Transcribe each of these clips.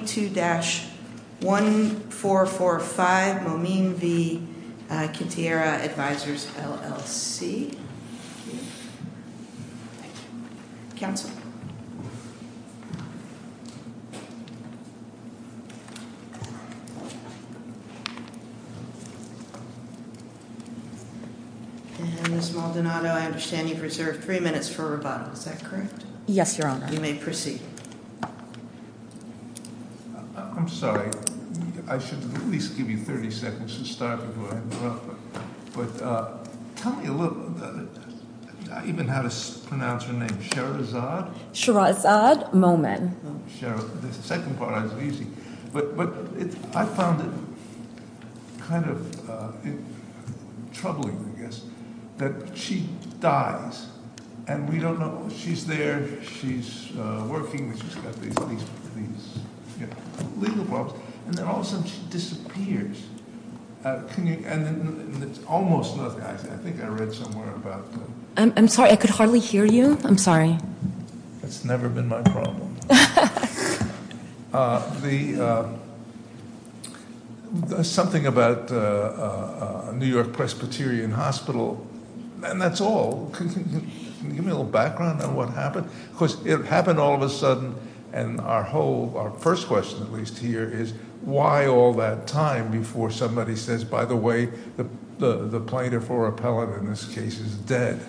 22-1445 Momin v. Quantierra Advisors, LLC I'm sorry, I should at least give you 30 seconds to start before I interrupt. But tell me a little, even how to pronounce her name. Sherazad? Sherazad Momin. Sherazad. The second part is easy. But I found it kind of troubling, I guess, that she dies and we don't know. She's there, she's working, she's got these legal problems. And then all of a sudden she disappears. And it's almost nothing. I think I read somewhere about that. I'm sorry, I could hardly hear you. I'm sorry. That's never been my problem. Something about New York Presbyterian Hospital. And that's all. Can you give me a little background on what happened? Because it happened all of a sudden. And our first question, at least here, is why all that time before somebody says, by the way, the plaintiff or appellate in this case is dead?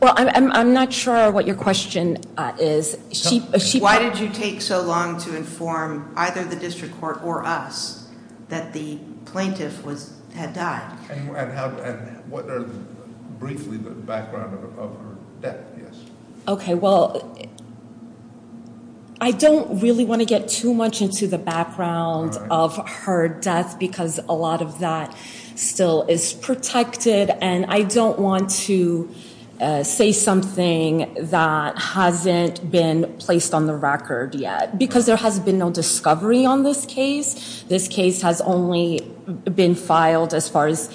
Well, I'm not sure what your question is. Why did you take so long to inform either the district court or us that the plaintiff had died? And what are briefly the background of her death? Okay, well, I don't really want to get too much into the background of her death because a lot of that still is protected. And I don't want to say something that hasn't been placed on the record yet. Because there has been no discovery on this case. This case has only been filed as far as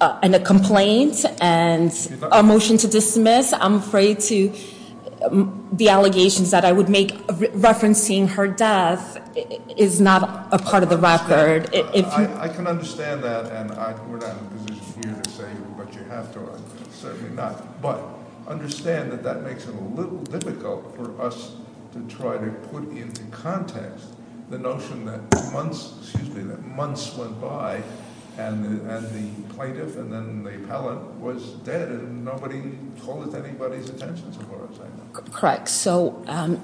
a complaint and a motion to dismiss. I'm afraid the allegations that I would make referencing her death is not a part of the record. I can understand that, and we're not in a position for you to say what you have to, certainly not. But understand that that makes it a little difficult for us to try to put into context the notion that months, excuse me, that months went by and the plaintiff and then the appellate was dead. And nobody told it to anybody's attention, is what I'm saying. Correct. So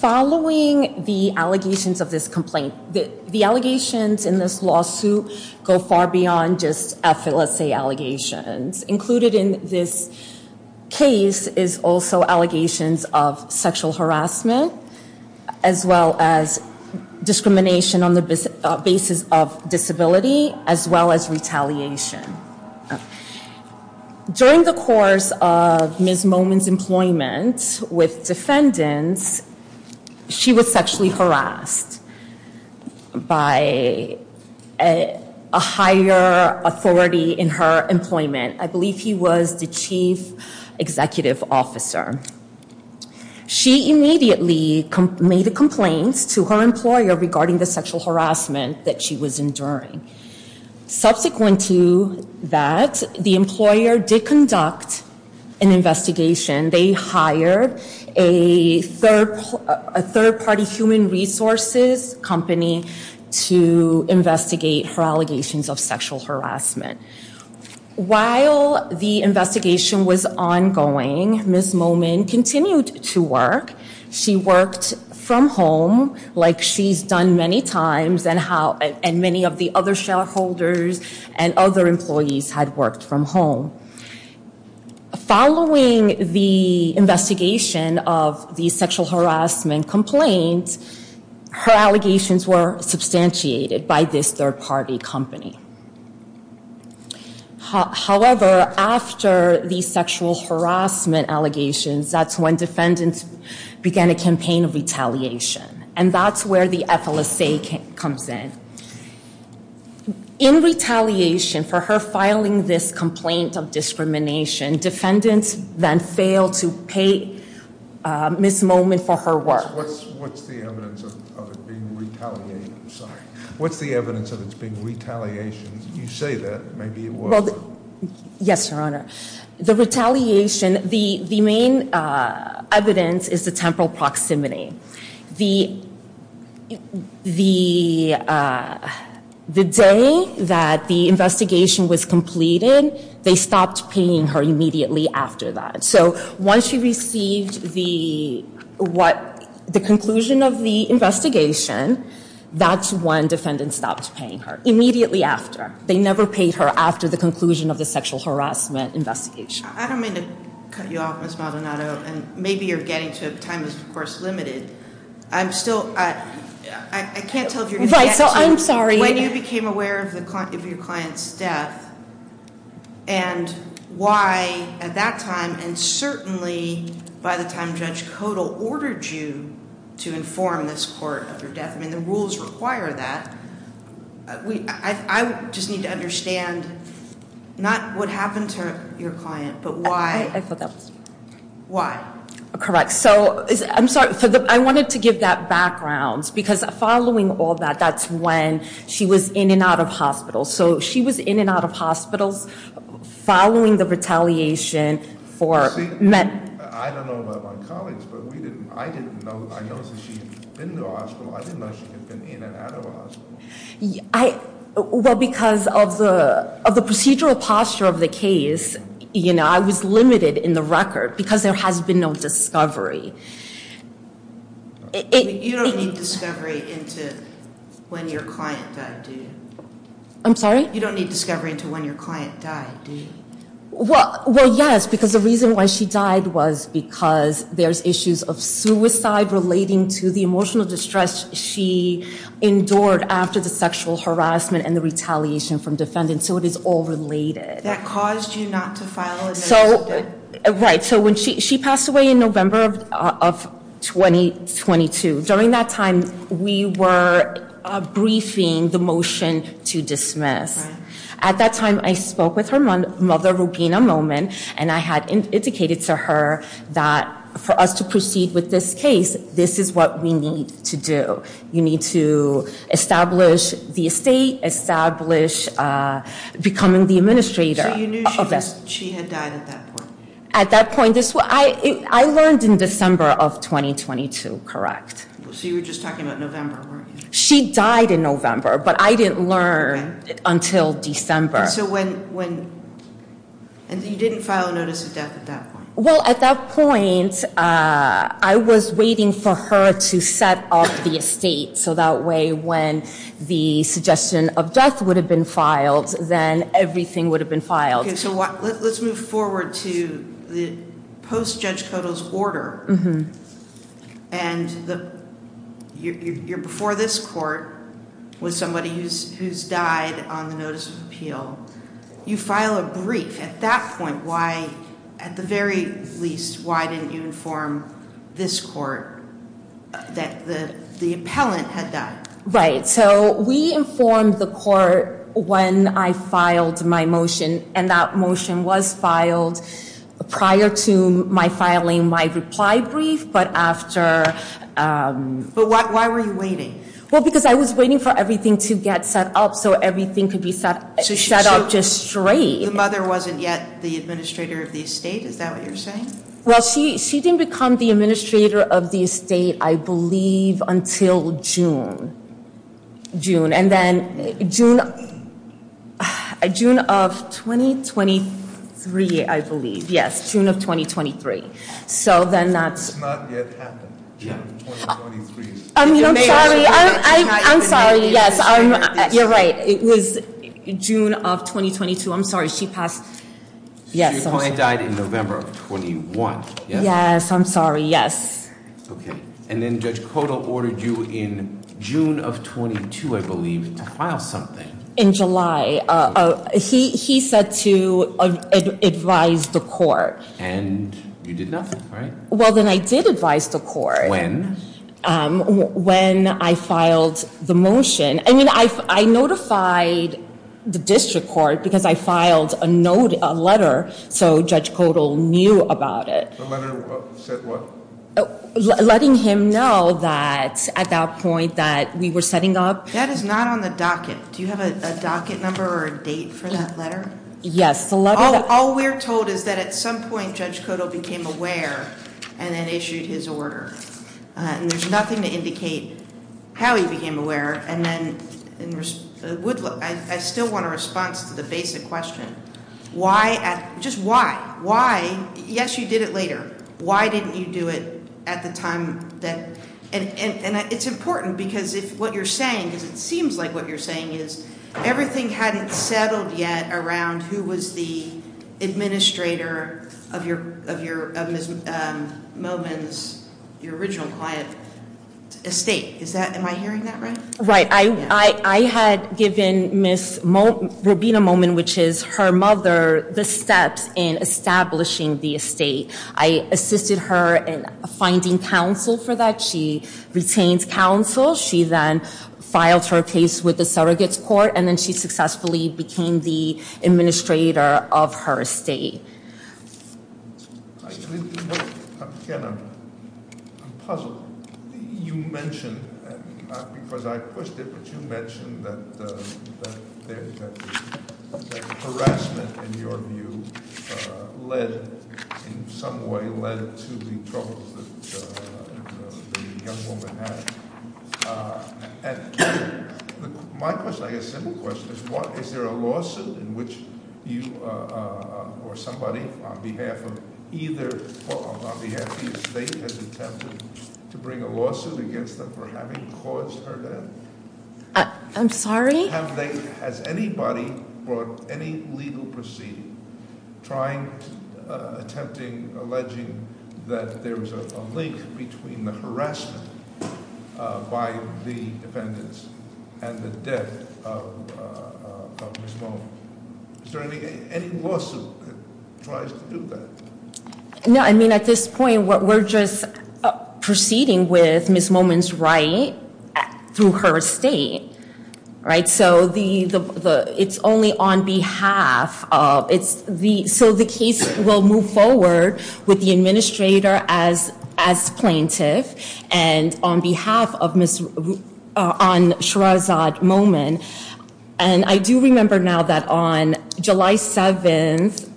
following the allegations of this complaint, the allegations in this lawsuit go far beyond just effortless allegations. Included in this case is also allegations of sexual harassment, as well as discrimination on the basis of disability, as well as retaliation. During the course of Ms. Momin's employment with defendants, she was sexually harassed by a higher authority in her employment. I believe he was the chief executive officer. She immediately made a complaint to her employer regarding the sexual harassment that she was enduring. Subsequent to that, the employer did conduct an investigation. They hired a third party human resources company to investigate her allegations of sexual harassment. While the investigation was ongoing, Ms. Momin continued to work. She worked from home, like she's done many times, and many of the other shareholders and other employees had worked from home. Following the investigation of the sexual harassment complaint, her allegations were substantiated by this third party company. However, after the sexual harassment allegations, that's when defendants began a campaign of retaliation. And that's where the FLSA comes in. In retaliation for her filing this complaint of discrimination, defendants then failed to pay Ms. Momin for her work. What's the evidence of it being retaliation? I'm sorry. What's the evidence of it being retaliation? You say that. Maybe it was. Yes, Your Honor. The retaliation, the main evidence is the temporal proximity. The day that the investigation was completed, they stopped paying her immediately after that. So once she received the conclusion of the investigation, that's when defendants stopped paying her, immediately after. They never paid her after the conclusion of the sexual harassment investigation. I don't mean to cut you off, Ms. Maldonado, and maybe you're getting to a time that's, of course, limited. I can't tell if you're getting to when you became aware of your client's death and why, at that time, and certainly by the time Judge Kodal ordered you to inform this court of her death. I mean, the rules require that. I just need to understand, not what happened to your client, but why. I forgot. Why? Correct. So I'm sorry. I wanted to give that background because following all that, that's when she was in and out of hospital. So she was in and out of hospitals following the retaliation for- I don't know about my colleagues, but I noticed that she had been to a hospital. I didn't know she had been in and out of a hospital. Well, because of the procedural posture of the case, I was limited in the record because there has been no discovery. I'm sorry? You don't need discovery until when your client died, do you? Well, yes, because the reason why she died was because there's issues of suicide relating to the emotional distress she endured after the sexual harassment and the retaliation from defendants. So it is all related. That caused you not to file a notice of death? Right. So she passed away in November of 2022. During that time, we were briefing the motion to dismiss. Right. At that time, I spoke with her mother, Rubina Momin, and I had indicated to her that for us to proceed with this case, this is what we need to do. You need to establish the estate, establish becoming the administrator. So you knew she had died at that point? At that point. I learned in December of 2022, correct? So you were just talking about November, weren't you? She died in November, but I didn't learn until December. And so when you didn't file a notice of death at that point? Well, at that point, I was waiting for her to set up the estate, so that way when the suggestion of death would have been filed, then everything would have been filed. So let's move forward to the post-Judge Kotel's order. And you're before this court with somebody who's died on the notice of appeal. You file a brief. At that point, why, at the very least, why didn't you inform this court that the appellant had died? Right. So we informed the court when I filed my motion, and that motion was filed prior to my filing my reply brief, but after. But why were you waiting? Well, because I was waiting for everything to get set up, so everything could be set up just straight. The mother wasn't yet the administrator of the estate? Is that what you're saying? Well, she didn't become the administrator of the estate, I believe, until June. June. And then June of 2023, I believe. Yes, June of 2023. So then that's. It's not yet happened. I'm sorry. Yes, you're right. It was June of 2022. I'm sorry, she passed. So your client died in November of 21, yes? Yes, I'm sorry, yes. Okay. And then Judge Kodal ordered you in June of 22, I believe, to file something. In July. He said to advise the court. And you did nothing, right? Well, then I did advise the court. When? When I filed the motion. I mean, I notified the district court because I filed a letter so Judge Kodal knew about it. The letter said what? Letting him know that at that point that we were setting up. That is not on the docket. Do you have a docket number or a date for that letter? Yes. All we're told is that at some point Judge Kodal became aware and then issued his order. And there's nothing to indicate how he became aware. And then I still want a response to the basic question. Why? Just why? Why? Yes, you did it later. Why didn't you do it at the time? And it's important because what you're saying, because it seems like what you're saying is, everything hadn't settled yet around who was the administrator of Ms. Momin's, your original client, estate. Am I hearing that right? Right. I had given Ms. Robina Momin, which is her mother, the steps in establishing the estate. I assisted her in finding counsel for that. She retained counsel. She then filed her case with the surrogate's court. And then she successfully became the administrator of her estate. Again, I'm puzzled. You mentioned, because I pushed it, but you mentioned that harassment, in your view, led in some way, led to the troubles that the young woman had. My question, a simple question, is there a lawsuit in which you or somebody on behalf of either, on behalf of the estate, has attempted to bring a lawsuit against them for having caused her death? I'm sorry? Has anybody brought any legal proceeding, attempting, alleging that there was a link between the harassment by the defendants and the death of Ms. Momin? Is there any lawsuit that tries to do that? No, I mean, at this point, we're just proceeding with Ms. Momin's right through her estate. Right? So, it's only on behalf of, it's the, so the case will move forward with the administrator as plaintiff and on behalf of Ms., on Sherazade Momin. And I do remember now that on July 7th,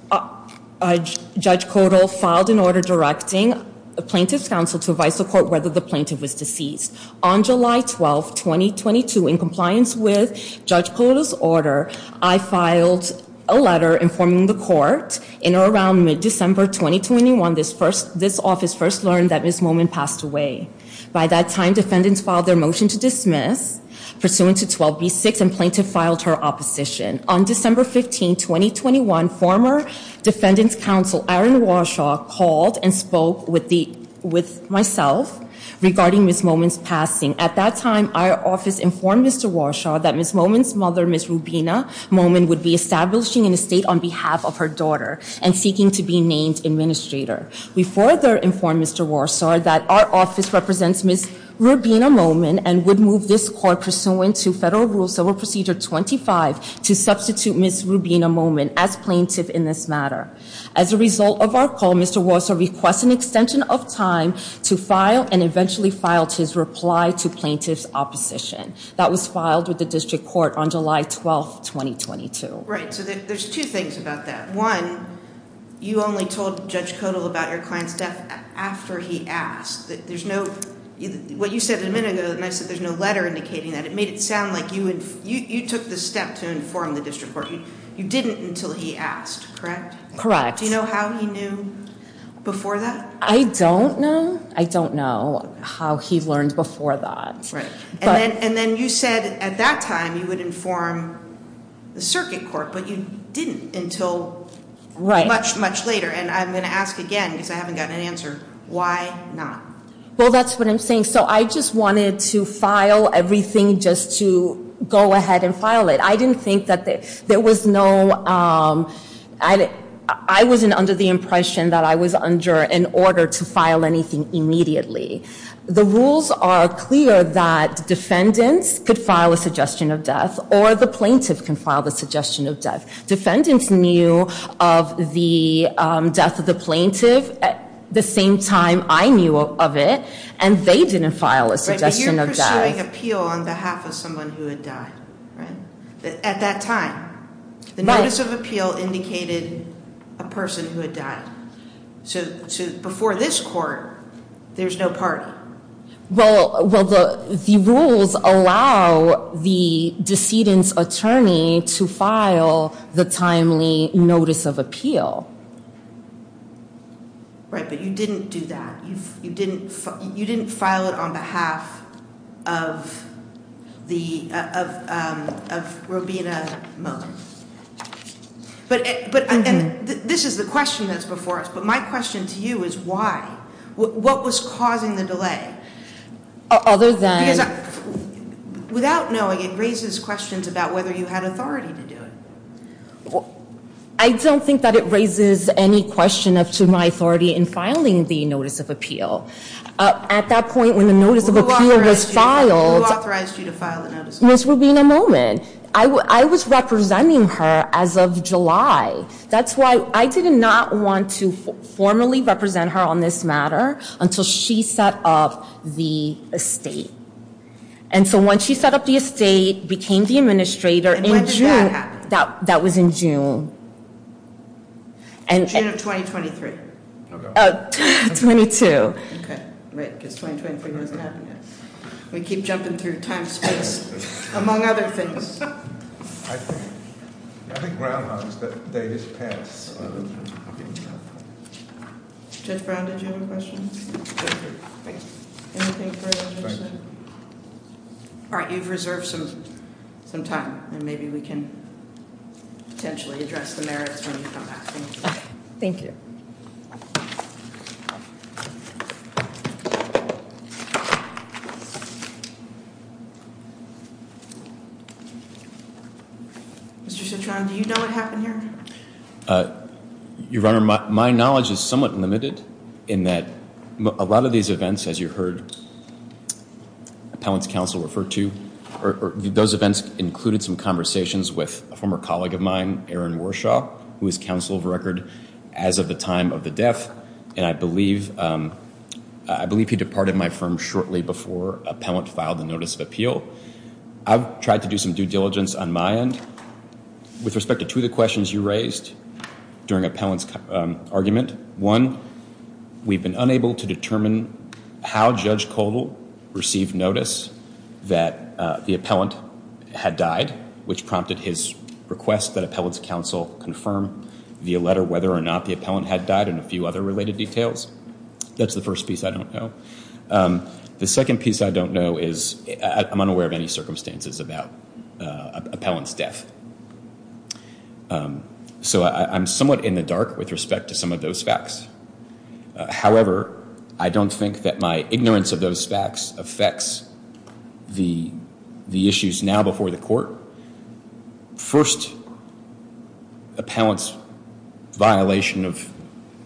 Judge Codal filed an order directing the Plaintiff's Counsel to advise the court whether the plaintiff was deceased. On July 12th, 2022, in compliance with Judge Codal's order, I filed a letter informing the court in or around mid-December 2021, this office first learned that Ms. Momin passed away. By that time, defendants filed their motion to dismiss, pursuant to 12B6, and plaintiff filed her opposition. On December 15th, 2021, former Defendant's Counsel, Aaron Warshaw, called and spoke with myself regarding Ms. Momin's passing. At that time, our office informed Mr. Warshaw that Ms. Momin's mother, Ms. Rubina Momin, would be establishing an estate on behalf of her daughter and seeking to be named administrator. We further informed Mr. Warshaw that our office represents Ms. Rubina Momin and would move this court, pursuant to Federal Rule Civil Procedure 25, to substitute Ms. Rubina Momin as plaintiff in this matter. As a result of our call, Mr. Warshaw requested an extension of time to file and eventually filed his reply to plaintiff's opposition. That was filed with the District Court on July 12th, 2022. Right, so there's two things about that. One, you only told Judge Kodal about your client's death after he asked. What you said a minute ago, and I said there's no letter indicating that, it made it sound like you took the step to inform the District Court. You didn't until he asked, correct? Correct. Do you know how he knew before that? I don't know. I don't know how he learned before that. And then you said at that time you would inform the Circuit Court, but you didn't until much, much later. And I'm going to ask again because I haven't gotten an answer. Why not? Well, that's what I'm saying. So I just wanted to file everything just to go ahead and file it. I didn't think that there was no – I wasn't under the impression that I was under an order to file anything immediately. The rules are clear that defendants could file a suggestion of death or the plaintiff can file the suggestion of death. Defendants knew of the death of the plaintiff at the same time I knew of it, and they didn't file a suggestion of death. But you're pursuing appeal on behalf of someone who had died, right, at that time. The notice of appeal indicated a person who had died. So before this Court, there's no party. Well, the rules allow the decedent's attorney to file the timely notice of appeal. Right, but you didn't do that. You didn't file it on behalf of Robina Mullen. And this is the question that's before us, but my question to you is why. What was causing the delay? Because without knowing, it raises questions about whether you had authority to do it. I don't think that it raises any question as to my authority in filing the notice of appeal. At that point, when the notice of appeal was filed – Who authorized you to file the notice of appeal? Ms. Robina Mullen. I was representing her as of July. That's why I did not want to formally represent her on this matter until she set up the estate. And so when she set up the estate, became the administrator in June – And when did that happen? That was in June. June of 2023. Oh, 22. Okay, right, because 2023 wasn't happening yet. We keep jumping through time and space, among other things. I think groundhogs that they just passed. Judge Brown, did you have a question? Thank you. All right, you've reserved some time, and maybe we can potentially address the merits when you come back. Thank you. Mr. Citron, do you know what happened here? Your Honor, my knowledge is somewhat limited in that a lot of these events, as you heard Appellant's counsel refer to, those events included some conversations with a former colleague of mine, Aaron Warshaw, who is counsel of record as of the time of the death. And I believe he departed my firm shortly before Appellant filed the notice of appeal. I've tried to do some due diligence on my end with respect to two of the questions you raised during Appellant's argument. One, we've been unable to determine how Judge Koval received notice that the appellant had died, which prompted his request that Appellant's counsel confirm via letter whether or not the appellant had died and a few other related details. That's the first piece I don't know. The second piece I don't know is I'm unaware of any circumstances about Appellant's death. So I'm somewhat in the dark with respect to some of those facts. However, I don't think that my ignorance of those facts affects the issues now before the court. First, Appellant's violation of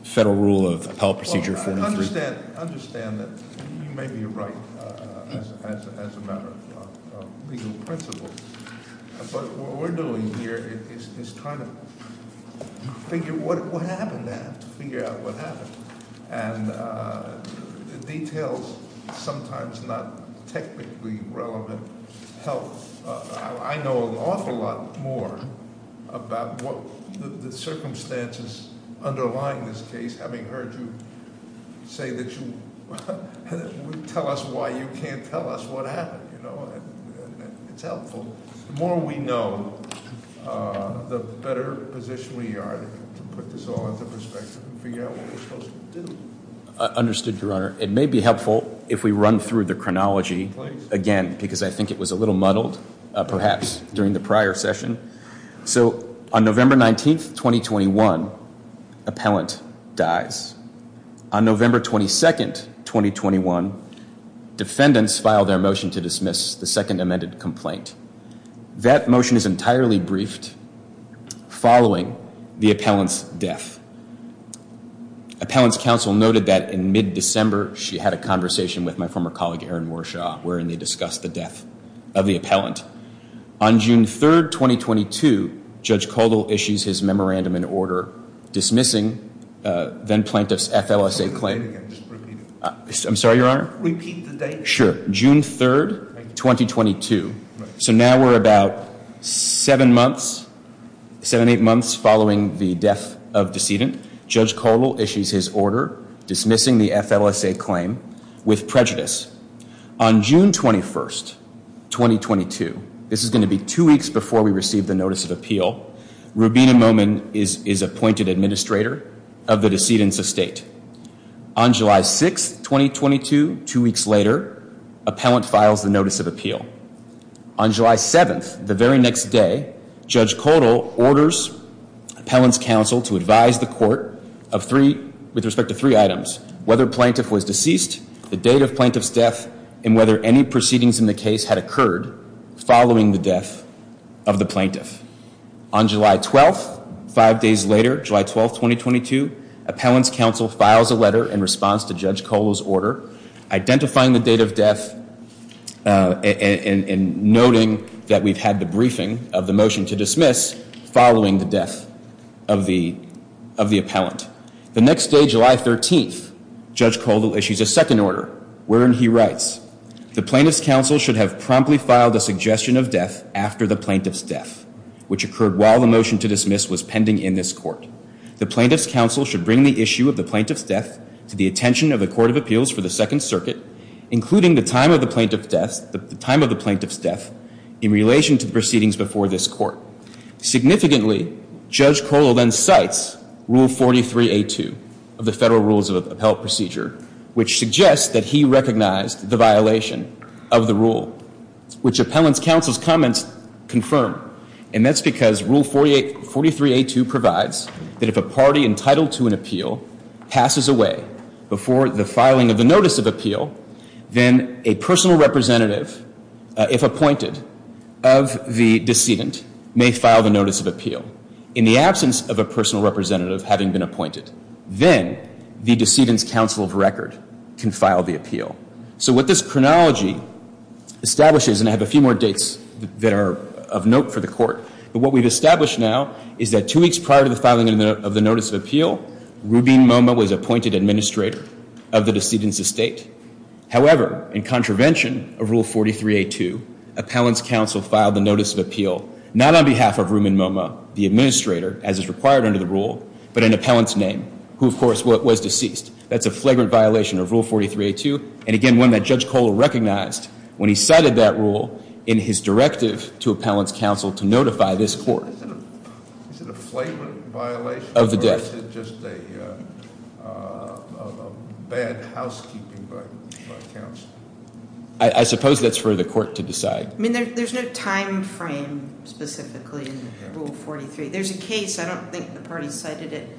federal rule of Appellant Procedure 43. I understand that you may be right as a matter of legal principle, but what we're doing here is trying to figure out what happened then, to figure out what happened. And the details, sometimes not technically relevant, help. I know an awful lot more about the circumstances underlying this case, having heard you say that you would tell us why you can't tell us what happened. It's helpful. The more we know, the better position we are to put this all into perspective and figure out what we're supposed to do. Understood, Your Honor. It may be helpful if we run through the chronology again, because I think it was a little muddled, perhaps, during the prior session. So on November 19th, 2021, Appellant dies. On November 22nd, 2021, defendants file their motion to dismiss the second amended complaint. That motion is entirely briefed following the Appellant's death. Appellant's counsel noted that in mid-December, she had a conversation with my former colleague, Aaron Warshaw, wherein they discussed the death of the appellant. On June 3rd, 2022, Judge Caldwell issues his memorandum in order dismissing then-plaintiff's FLSA claim. I'm sorry, Your Honor? Repeat the date. Sure. June 3rd, 2022. So now we're about seven months, seven, eight months following the death of decedent. Judge Caldwell issues his order dismissing the FLSA claim with prejudice. On June 21st, 2022, this is going to be two weeks before we receive the notice of appeal, Rubina Momin is appointed administrator of the decedent's estate. On July 6th, 2022, two weeks later, Appellant files the notice of appeal. On July 7th, the very next day, Judge Caldwell orders Appellant's counsel to advise the court with respect to three items, whether plaintiff was deceased, the date of plaintiff's death, and whether any proceedings in the case had occurred following the death of the plaintiff. On July 12th, five days later, July 12th, 2022, Appellant's counsel files a letter in response to Judge Caldwell's order identifying the date of death and noting that we've had the briefing of the motion to dismiss following the death of the appellant. The next day, July 13th, Judge Caldwell issues a second order wherein he writes, the plaintiff's counsel should have promptly filed a suggestion of death after the plaintiff's death, which occurred while the motion to dismiss was pending in this court. The plaintiff's counsel should bring the issue of the plaintiff's death to the attention of the Court of Appeals for the Second Circuit, including the time of the plaintiff's death in relation to the proceedings before this court. Significantly, Judge Caldwell then cites Rule 43A2 of the Federal Rules of Appellant Procedure, which suggests that he recognized the violation of the rule, which Appellant's counsel's comments confirm. And that's because Rule 43A2 provides that if a party entitled to an appeal passes away before the filing of the notice of appeal, then a personal representative, if appointed, of the decedent may file the notice of appeal. In the absence of a personal representative having been appointed, then the decedent's counsel of record can file the appeal. So what this chronology establishes, and I have a few more dates that are of note for the court, but what we've established now is that two weeks prior to the filing of the notice of appeal, Rubin MoMA was appointed administrator of the decedent's estate. However, in contravention of Rule 43A2, Appellant's counsel filed the notice of appeal not on behalf of Rubin MoMA, the administrator, as is required under the rule, but in Appellant's name, who of course was deceased. That's a flagrant violation of Rule 43A2, and again, one that Judge Caldwell recognized when he cited that rule in his directive to Appellant's counsel to notify this court. Is it a flagrant violation? Of the death. Or is it just a bad housekeeping by counsel? I suppose that's for the court to decide. I mean, there's no time frame specifically in Rule 43. There's a case, I don't think the party cited it,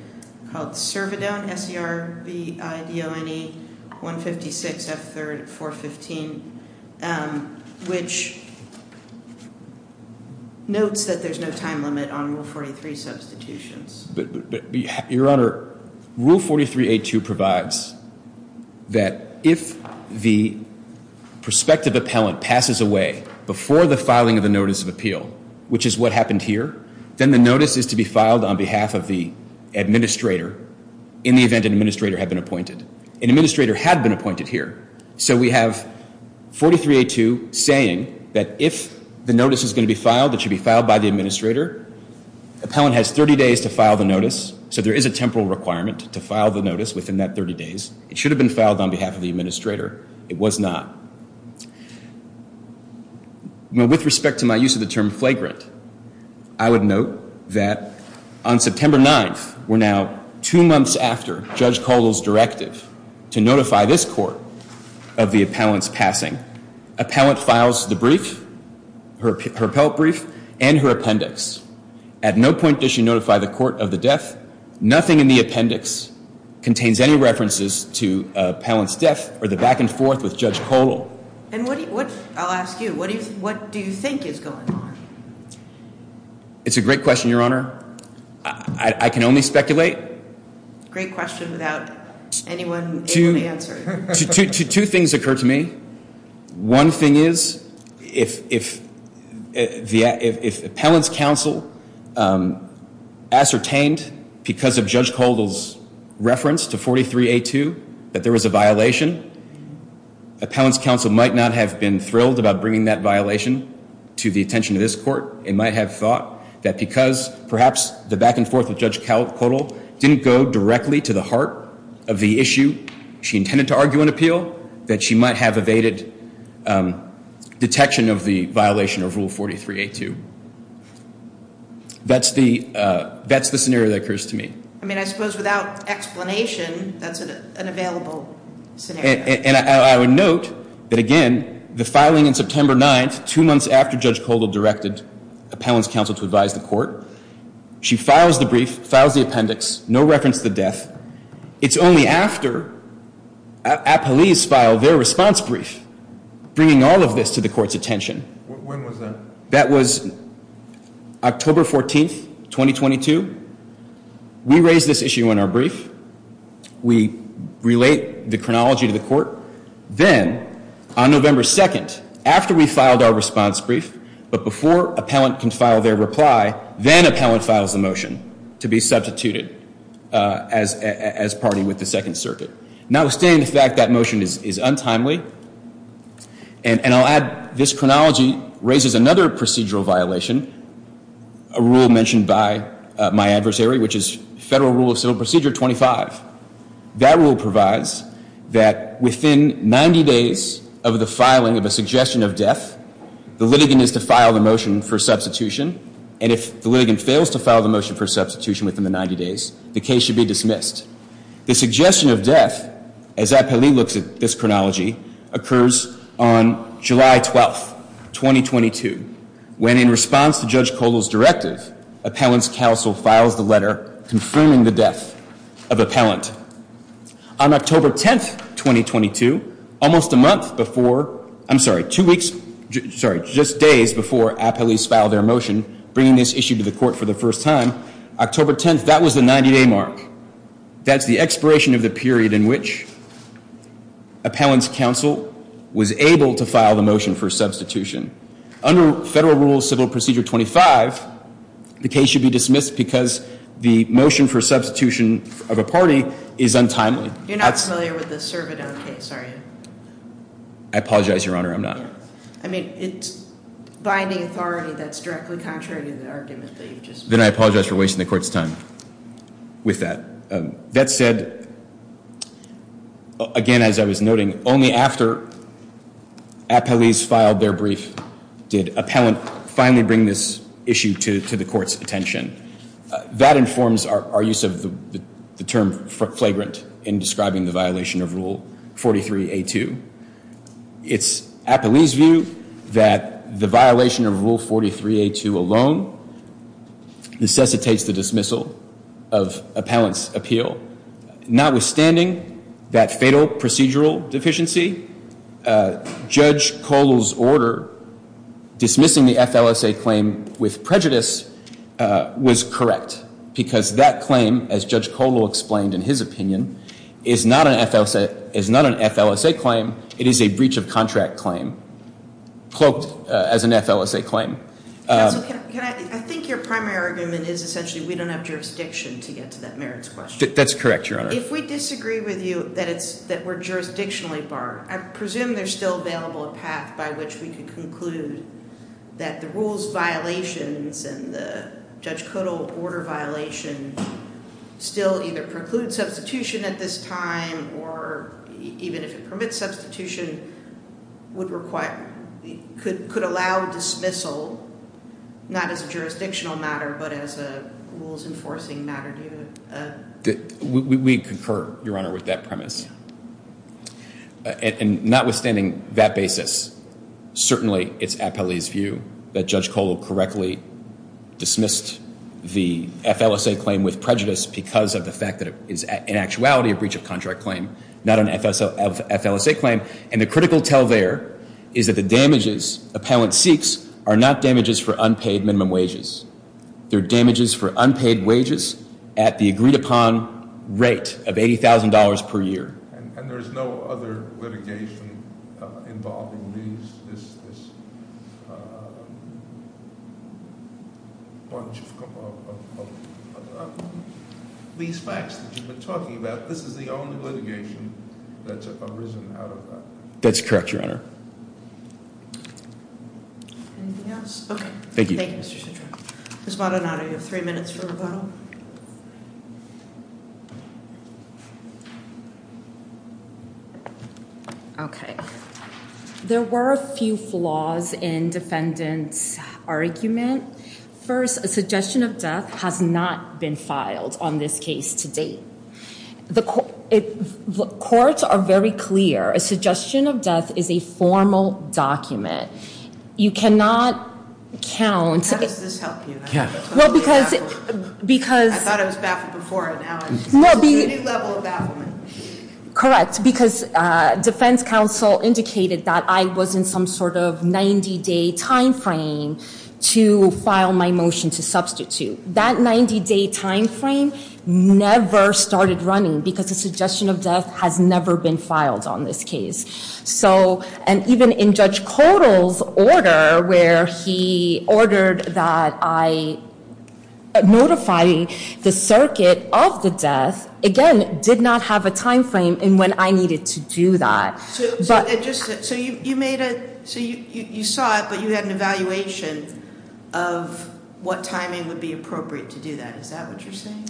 called Servodone, S-E-R-V-I-D-O-N-E 156 F3rd 415, which notes that there's no time limit on Rule 43 substitutions. Your Honor, Rule 43A2 provides that if the prospective appellant passes away before the filing of the notice of appeal, which is what happened here, then the notice is to be filed on behalf of the administrator in the event an administrator had been appointed. An administrator had been appointed here. So we have 43A2 saying that if the notice is going to be filed, it should be filed by the administrator. Appellant has 30 days to file the notice, so there is a temporal requirement to file the notice within that 30 days. It should have been filed on behalf of the administrator. It was not. With respect to my use of the term flagrant, I would note that on September 9th, we're now two months after Judge Koldel's directive to notify this court of the appellant's passing. Appellant files the brief, her appellate brief, and her appendix. At no point does she notify the court of the death. I'll ask you, what do you think is going on? It's a great question, Your Honor. I can only speculate. Great question without anyone being able to answer it. Two things occur to me. One thing is, if appellant's counsel ascertained because of Judge Koldel's reference to 43A2 that there was a violation, appellant's counsel might not have been thrilled about bringing that violation to the attention of this court. It might have thought that because perhaps the back and forth with Judge Koldel didn't go directly to the heart of the issue she intended to argue and appeal, that she might have evaded detection of the violation of Rule 43A2. That's the scenario that occurs to me. I mean, I suppose without explanation, that's an available scenario. And I would note that again, the filing in September 9th, two months after Judge Koldel directed appellant's counsel to advise the court, she files the brief, files the appendix, no reference to the death. It's only after appellees file their response brief bringing all of this to the court's attention. When was that? That was October 14th, 2022. We raise this issue in our brief. We relate the chronology to the court. Then, on November 2nd, after we filed our response brief, but before appellant can file their reply, then appellant files the motion to be substituted as party with the Second Circuit. Notwithstanding the fact that motion is untimely, and I'll add this chronology raises another procedural violation, a rule mentioned by my adversary, which is Federal Rule of Civil Procedure 25. That rule provides that within 90 days of the filing of a suggestion of death, the litigant is to file the motion for substitution, and if the litigant fails to file the motion for substitution within the 90 days, the case should be dismissed. The suggestion of death, as appellee looks at this chronology, occurs on July 12th, 2022, when in response to Judge Cole's directive, appellant's counsel files the letter confirming the death of appellant. On October 10th, 2022, almost a month before, I'm sorry, two weeks, sorry, just days before appellees filed their motion, bringing this issue to the court for the first time, October 10th, that was the 90-day mark. That's the expiration of the period in which appellant's counsel was able to file the motion for substitution. Under Federal Rule of Civil Procedure 25, the case should be dismissed because the motion for substitution of a party is untimely. You're not familiar with the Cervidon case, are you? I apologize, Your Honor, I'm not. I mean, it's binding authority that's directly contrary to the argument that you've just made. Then I apologize for wasting the court's time with that. That said, again, as I was noting, only after appellees filed their brief did appellant finally bring this issue to the court's attention. That informs our use of the term flagrant in describing the violation of Rule 43A2. It's appellee's view that the violation of Rule 43A2 alone necessitates the dismissal of appellant's appeal. Notwithstanding that fatal procedural deficiency, Judge Kohl's order dismissing the FLSA claim with prejudice was correct, because that claim, as Judge Kohl explained in his opinion, is not an FLSA claim. It is a breach of contract claim, cloaked as an FLSA claim. Counsel, can I – I think your primary argument is essentially we don't have jurisdiction to get to that merits question. That's correct, Your Honor. If we disagree with you that it's – that we're jurisdictionally barred, I presume there's still available a path by which we can conclude that the rules violations and the Judge Kohl order violation still either preclude substitution at this time, or even if it permits substitution, would require – could allow dismissal, not as a jurisdictional matter, but as a rules-enforcing matter. We concur, Your Honor, with that premise. And notwithstanding that basis, certainly it's appellee's view that Judge Kohl correctly dismissed the FLSA claim with prejudice because of the fact that it is in actuality a breach of contract claim, not an FLSA claim. And the critical tell there is that the damages appellant seeks are not damages for unpaid minimum wages. They're damages for unpaid wages at the agreed-upon rate of $80,000 per year. And there's no other litigation involving these – this bunch of – these facts that you've been talking about. This is the only litigation that's arisen out of that. That's correct, Your Honor. Anything else? Okay. Thank you. Ms. Maldonado, you have three minutes for rebuttal. Okay. There were a few flaws in defendant's argument. First, a suggestion of death has not been filed on this case to date. The courts are very clear. A suggestion of death is a formal document. You cannot count – How does this help you? Well, because – I thought I was baffled before, and now I'm at a completely new level of bafflement. Correct. Because defense counsel indicated that I was in some sort of 90-day timeframe to file my motion to substitute. That 90-day timeframe never started running because a suggestion of death has never been filed on this case. So – and even in Judge Kotal's order, where he ordered that I notify the circuit of the death, again, did not have a timeframe in when I needed to do that. So you made a – so you saw it, but you had an evaluation of what timing would be appropriate to do that. Is that what you're saying?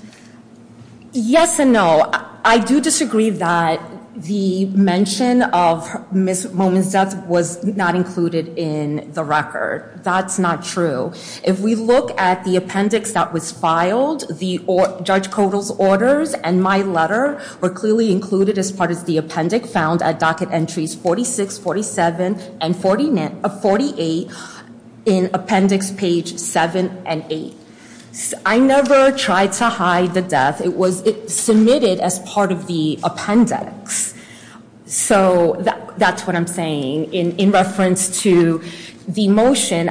Yes and no. I do disagree that the mention of Ms. Momin's death was not included in the record. That's not true. If we look at the appendix that was filed, Judge Kotal's orders and my letter were clearly included as part of the appendix found at docket entries 46, 47, and 48 in appendix page 7 and 8. It was submitted as part of the appendix. So that's what I'm saying in reference to the motion.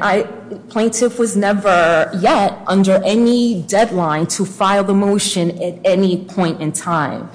Plaintiff was never yet under any deadline to file the motion at any point in time.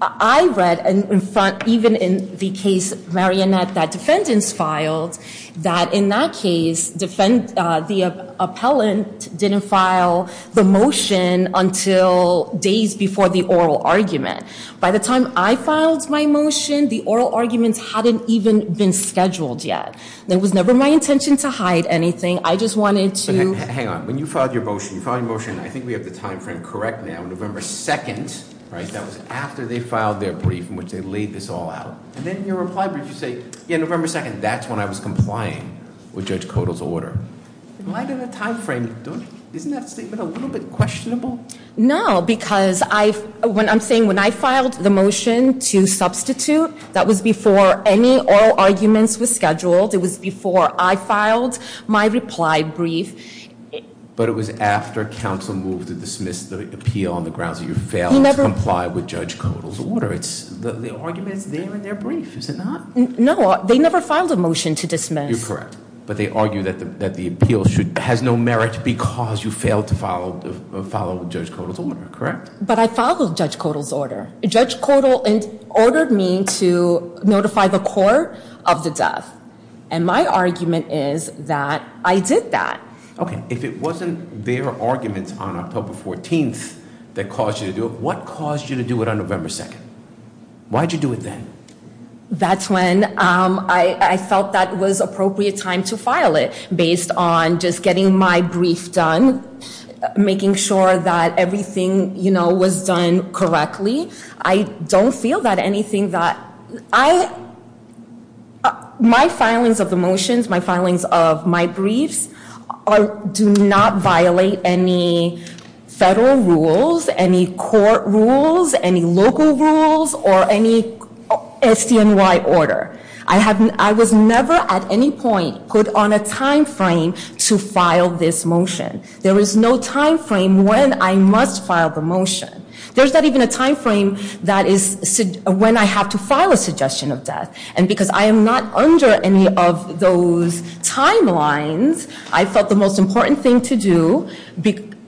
I read in front – even in the case, Marionette, that defendants filed, that in that case defend – the appellant didn't file the motion until days before the oral argument. By the time I filed my motion, the oral argument hadn't even been scheduled yet. It was never my intention to hide anything. I just wanted to – Hang on. When you filed your motion, you filed your motion – I think we have the timeframe correct now. November 2nd, right? That was after they filed their brief in which they laid this all out. And then in your reply brief you say, yeah, November 2nd. That's when I was complying with Judge Kotal's order. In light of the timeframe, isn't that statement a little bit questionable? No, because I – I'm saying when I filed the motion to substitute, that was before any oral arguments were scheduled. It was before I filed my reply brief. But it was after counsel moved to dismiss the appeal on the grounds that you failed to comply with Judge Kotal's order. The argument is there in their brief, is it not? No, they never filed a motion to dismiss. You're correct. But they argue that the appeal should – has no merit because you failed to follow Judge Kotal's order, correct? But I followed Judge Kotal's order. Judge Kotal ordered me to notify the court of the death. And my argument is that I did that. Okay. If it wasn't their argument on October 14th that caused you to do it, what caused you to do it on November 2nd? Why did you do it then? That's when I felt that it was appropriate time to file it based on just getting my brief done, making sure that everything, you know, was done correctly. I don't feel that anything that – I – my filings of the motions, my filings of my briefs do not violate any federal rules, any court rules, any local rules, or any STNY order. I was never at any point put on a time frame to file this motion. There is no time frame when I must file the motion. There's not even a time frame that is – when I have to file a suggestion of death. And because I am not under any of those timelines, I felt the most important thing to do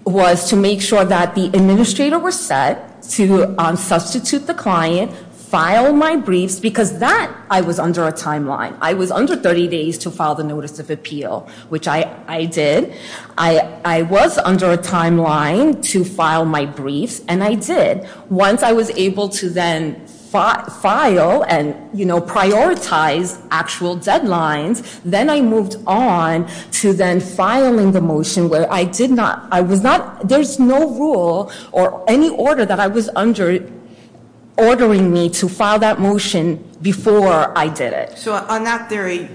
was to make sure that the administrator was set to substitute the client, file my briefs, because that – I was under a timeline. I was under 30 days to file the notice of appeal, which I did. I was under a timeline to file my briefs, and I did. Once I was able to then file and, you know, prioritize actual deadlines, then I moved on to then filing the motion where I did not – I was not – there's no rule or any order that I was under ordering me to file that motion before I did it. So on that theory,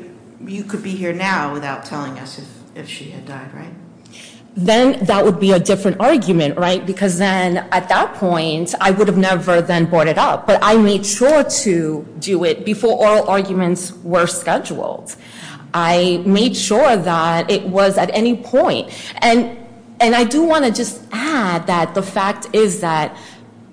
you could be here now without telling us if she had died, right? Then that would be a different argument, right? Because then at that point, I would have never then brought it up. But I made sure to do it before oral arguments were scheduled. I made sure that it was at any point. And I do want to just add that the fact is that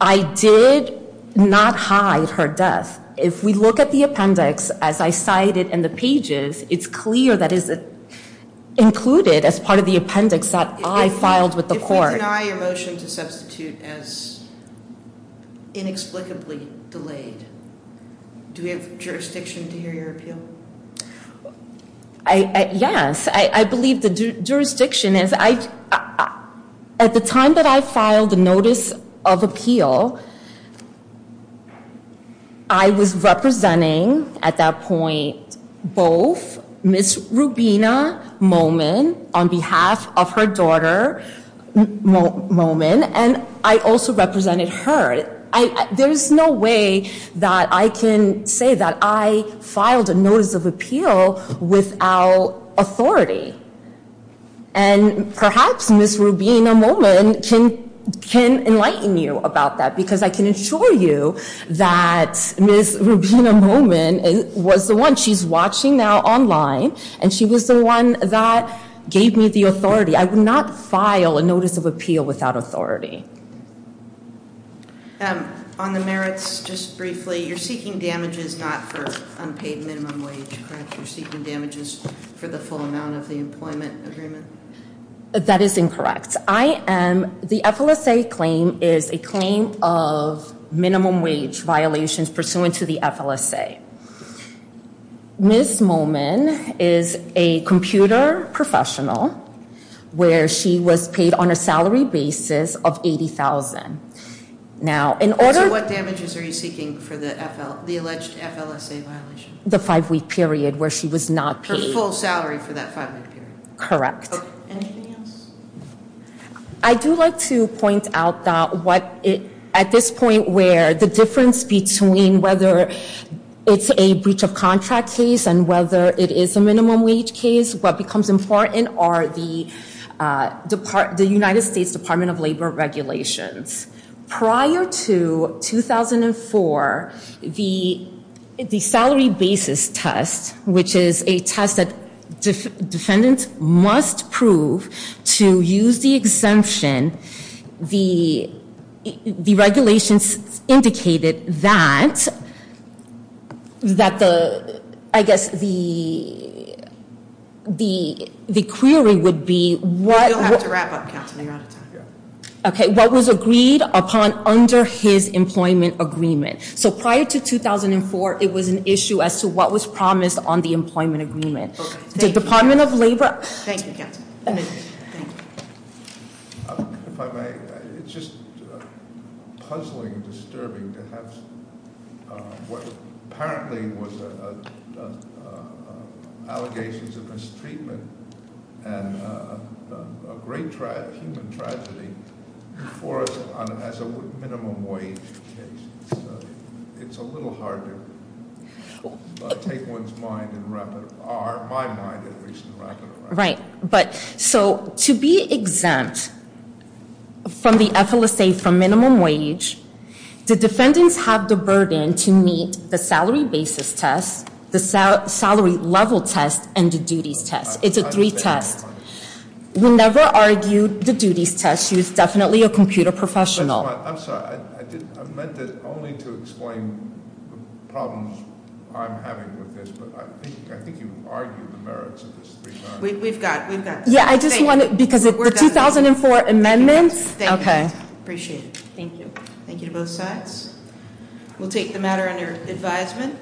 I did not hide her death. If we look at the appendix, as I cited in the pages, it's clear that it's included as part of the appendix that I filed with the court. If we deny your motion to substitute as inexplicably delayed, do we have jurisdiction to hear your appeal? Yes. I believe the jurisdiction is – at the time that I filed the notice of appeal, I was representing at that point both Ms. Rubina Momin on behalf of her daughter, Momin, and I also represented her. But there's no way that I can say that I filed a notice of appeal without authority. And perhaps Ms. Rubina Momin can enlighten you about that because I can assure you that Ms. Rubina Momin was the one. She's watching now online, and she was the one that gave me the authority. I would not file a notice of appeal without authority. On the merits, just briefly, you're seeking damages not for unpaid minimum wage, correct? You're seeking damages for the full amount of the employment agreement? That is incorrect. The FLSA claim is a claim of minimum wage violations pursuant to the FLSA. Ms. Momin is a computer professional where she was paid on a salary basis of $80,000. So what damages are you seeking for the alleged FLSA violation? The five-week period where she was not paid. Her full salary for that five-week period? Correct. Anything else? I do like to point out that at this point where the difference between whether it's a breach of contract case and whether it is a minimum wage case, what becomes important are the United States Department of Labor regulations. Prior to 2004, the salary basis test, which is a test that defendants must prove to use the exemption, the regulations indicated that the, I guess, the query would be what. You'll have to wrap up, Counselor. You're out of time. Okay, what was agreed upon under his employment agreement. So prior to 2004, it was an issue as to what was promised on the employment agreement. The Department of Labor- Thank you, Counselor. If I may, it's just puzzling, disturbing to have what apparently was allegations of mistreatment and a great human tragedy before us as a minimum wage case. It's a little hard to take one's mind and wrap it, my mind at least, and wrap it around it. Right, but so to be exempt from the FLSA for minimum wage, the defendants have the burden to meet the salary basis test, the salary level test, and the duties test. It's a three test. We never argued the duties test. She was definitely a computer professional. I'm sorry. I meant it only to explain the problems I'm having with this. But I think you argued the merits of this three time. We've got, we've got. Yeah, I just wanted, because the 2004 amendments- Okay. Appreciate it. Thank you. Thank you to both sides. We'll take the matter under advisement.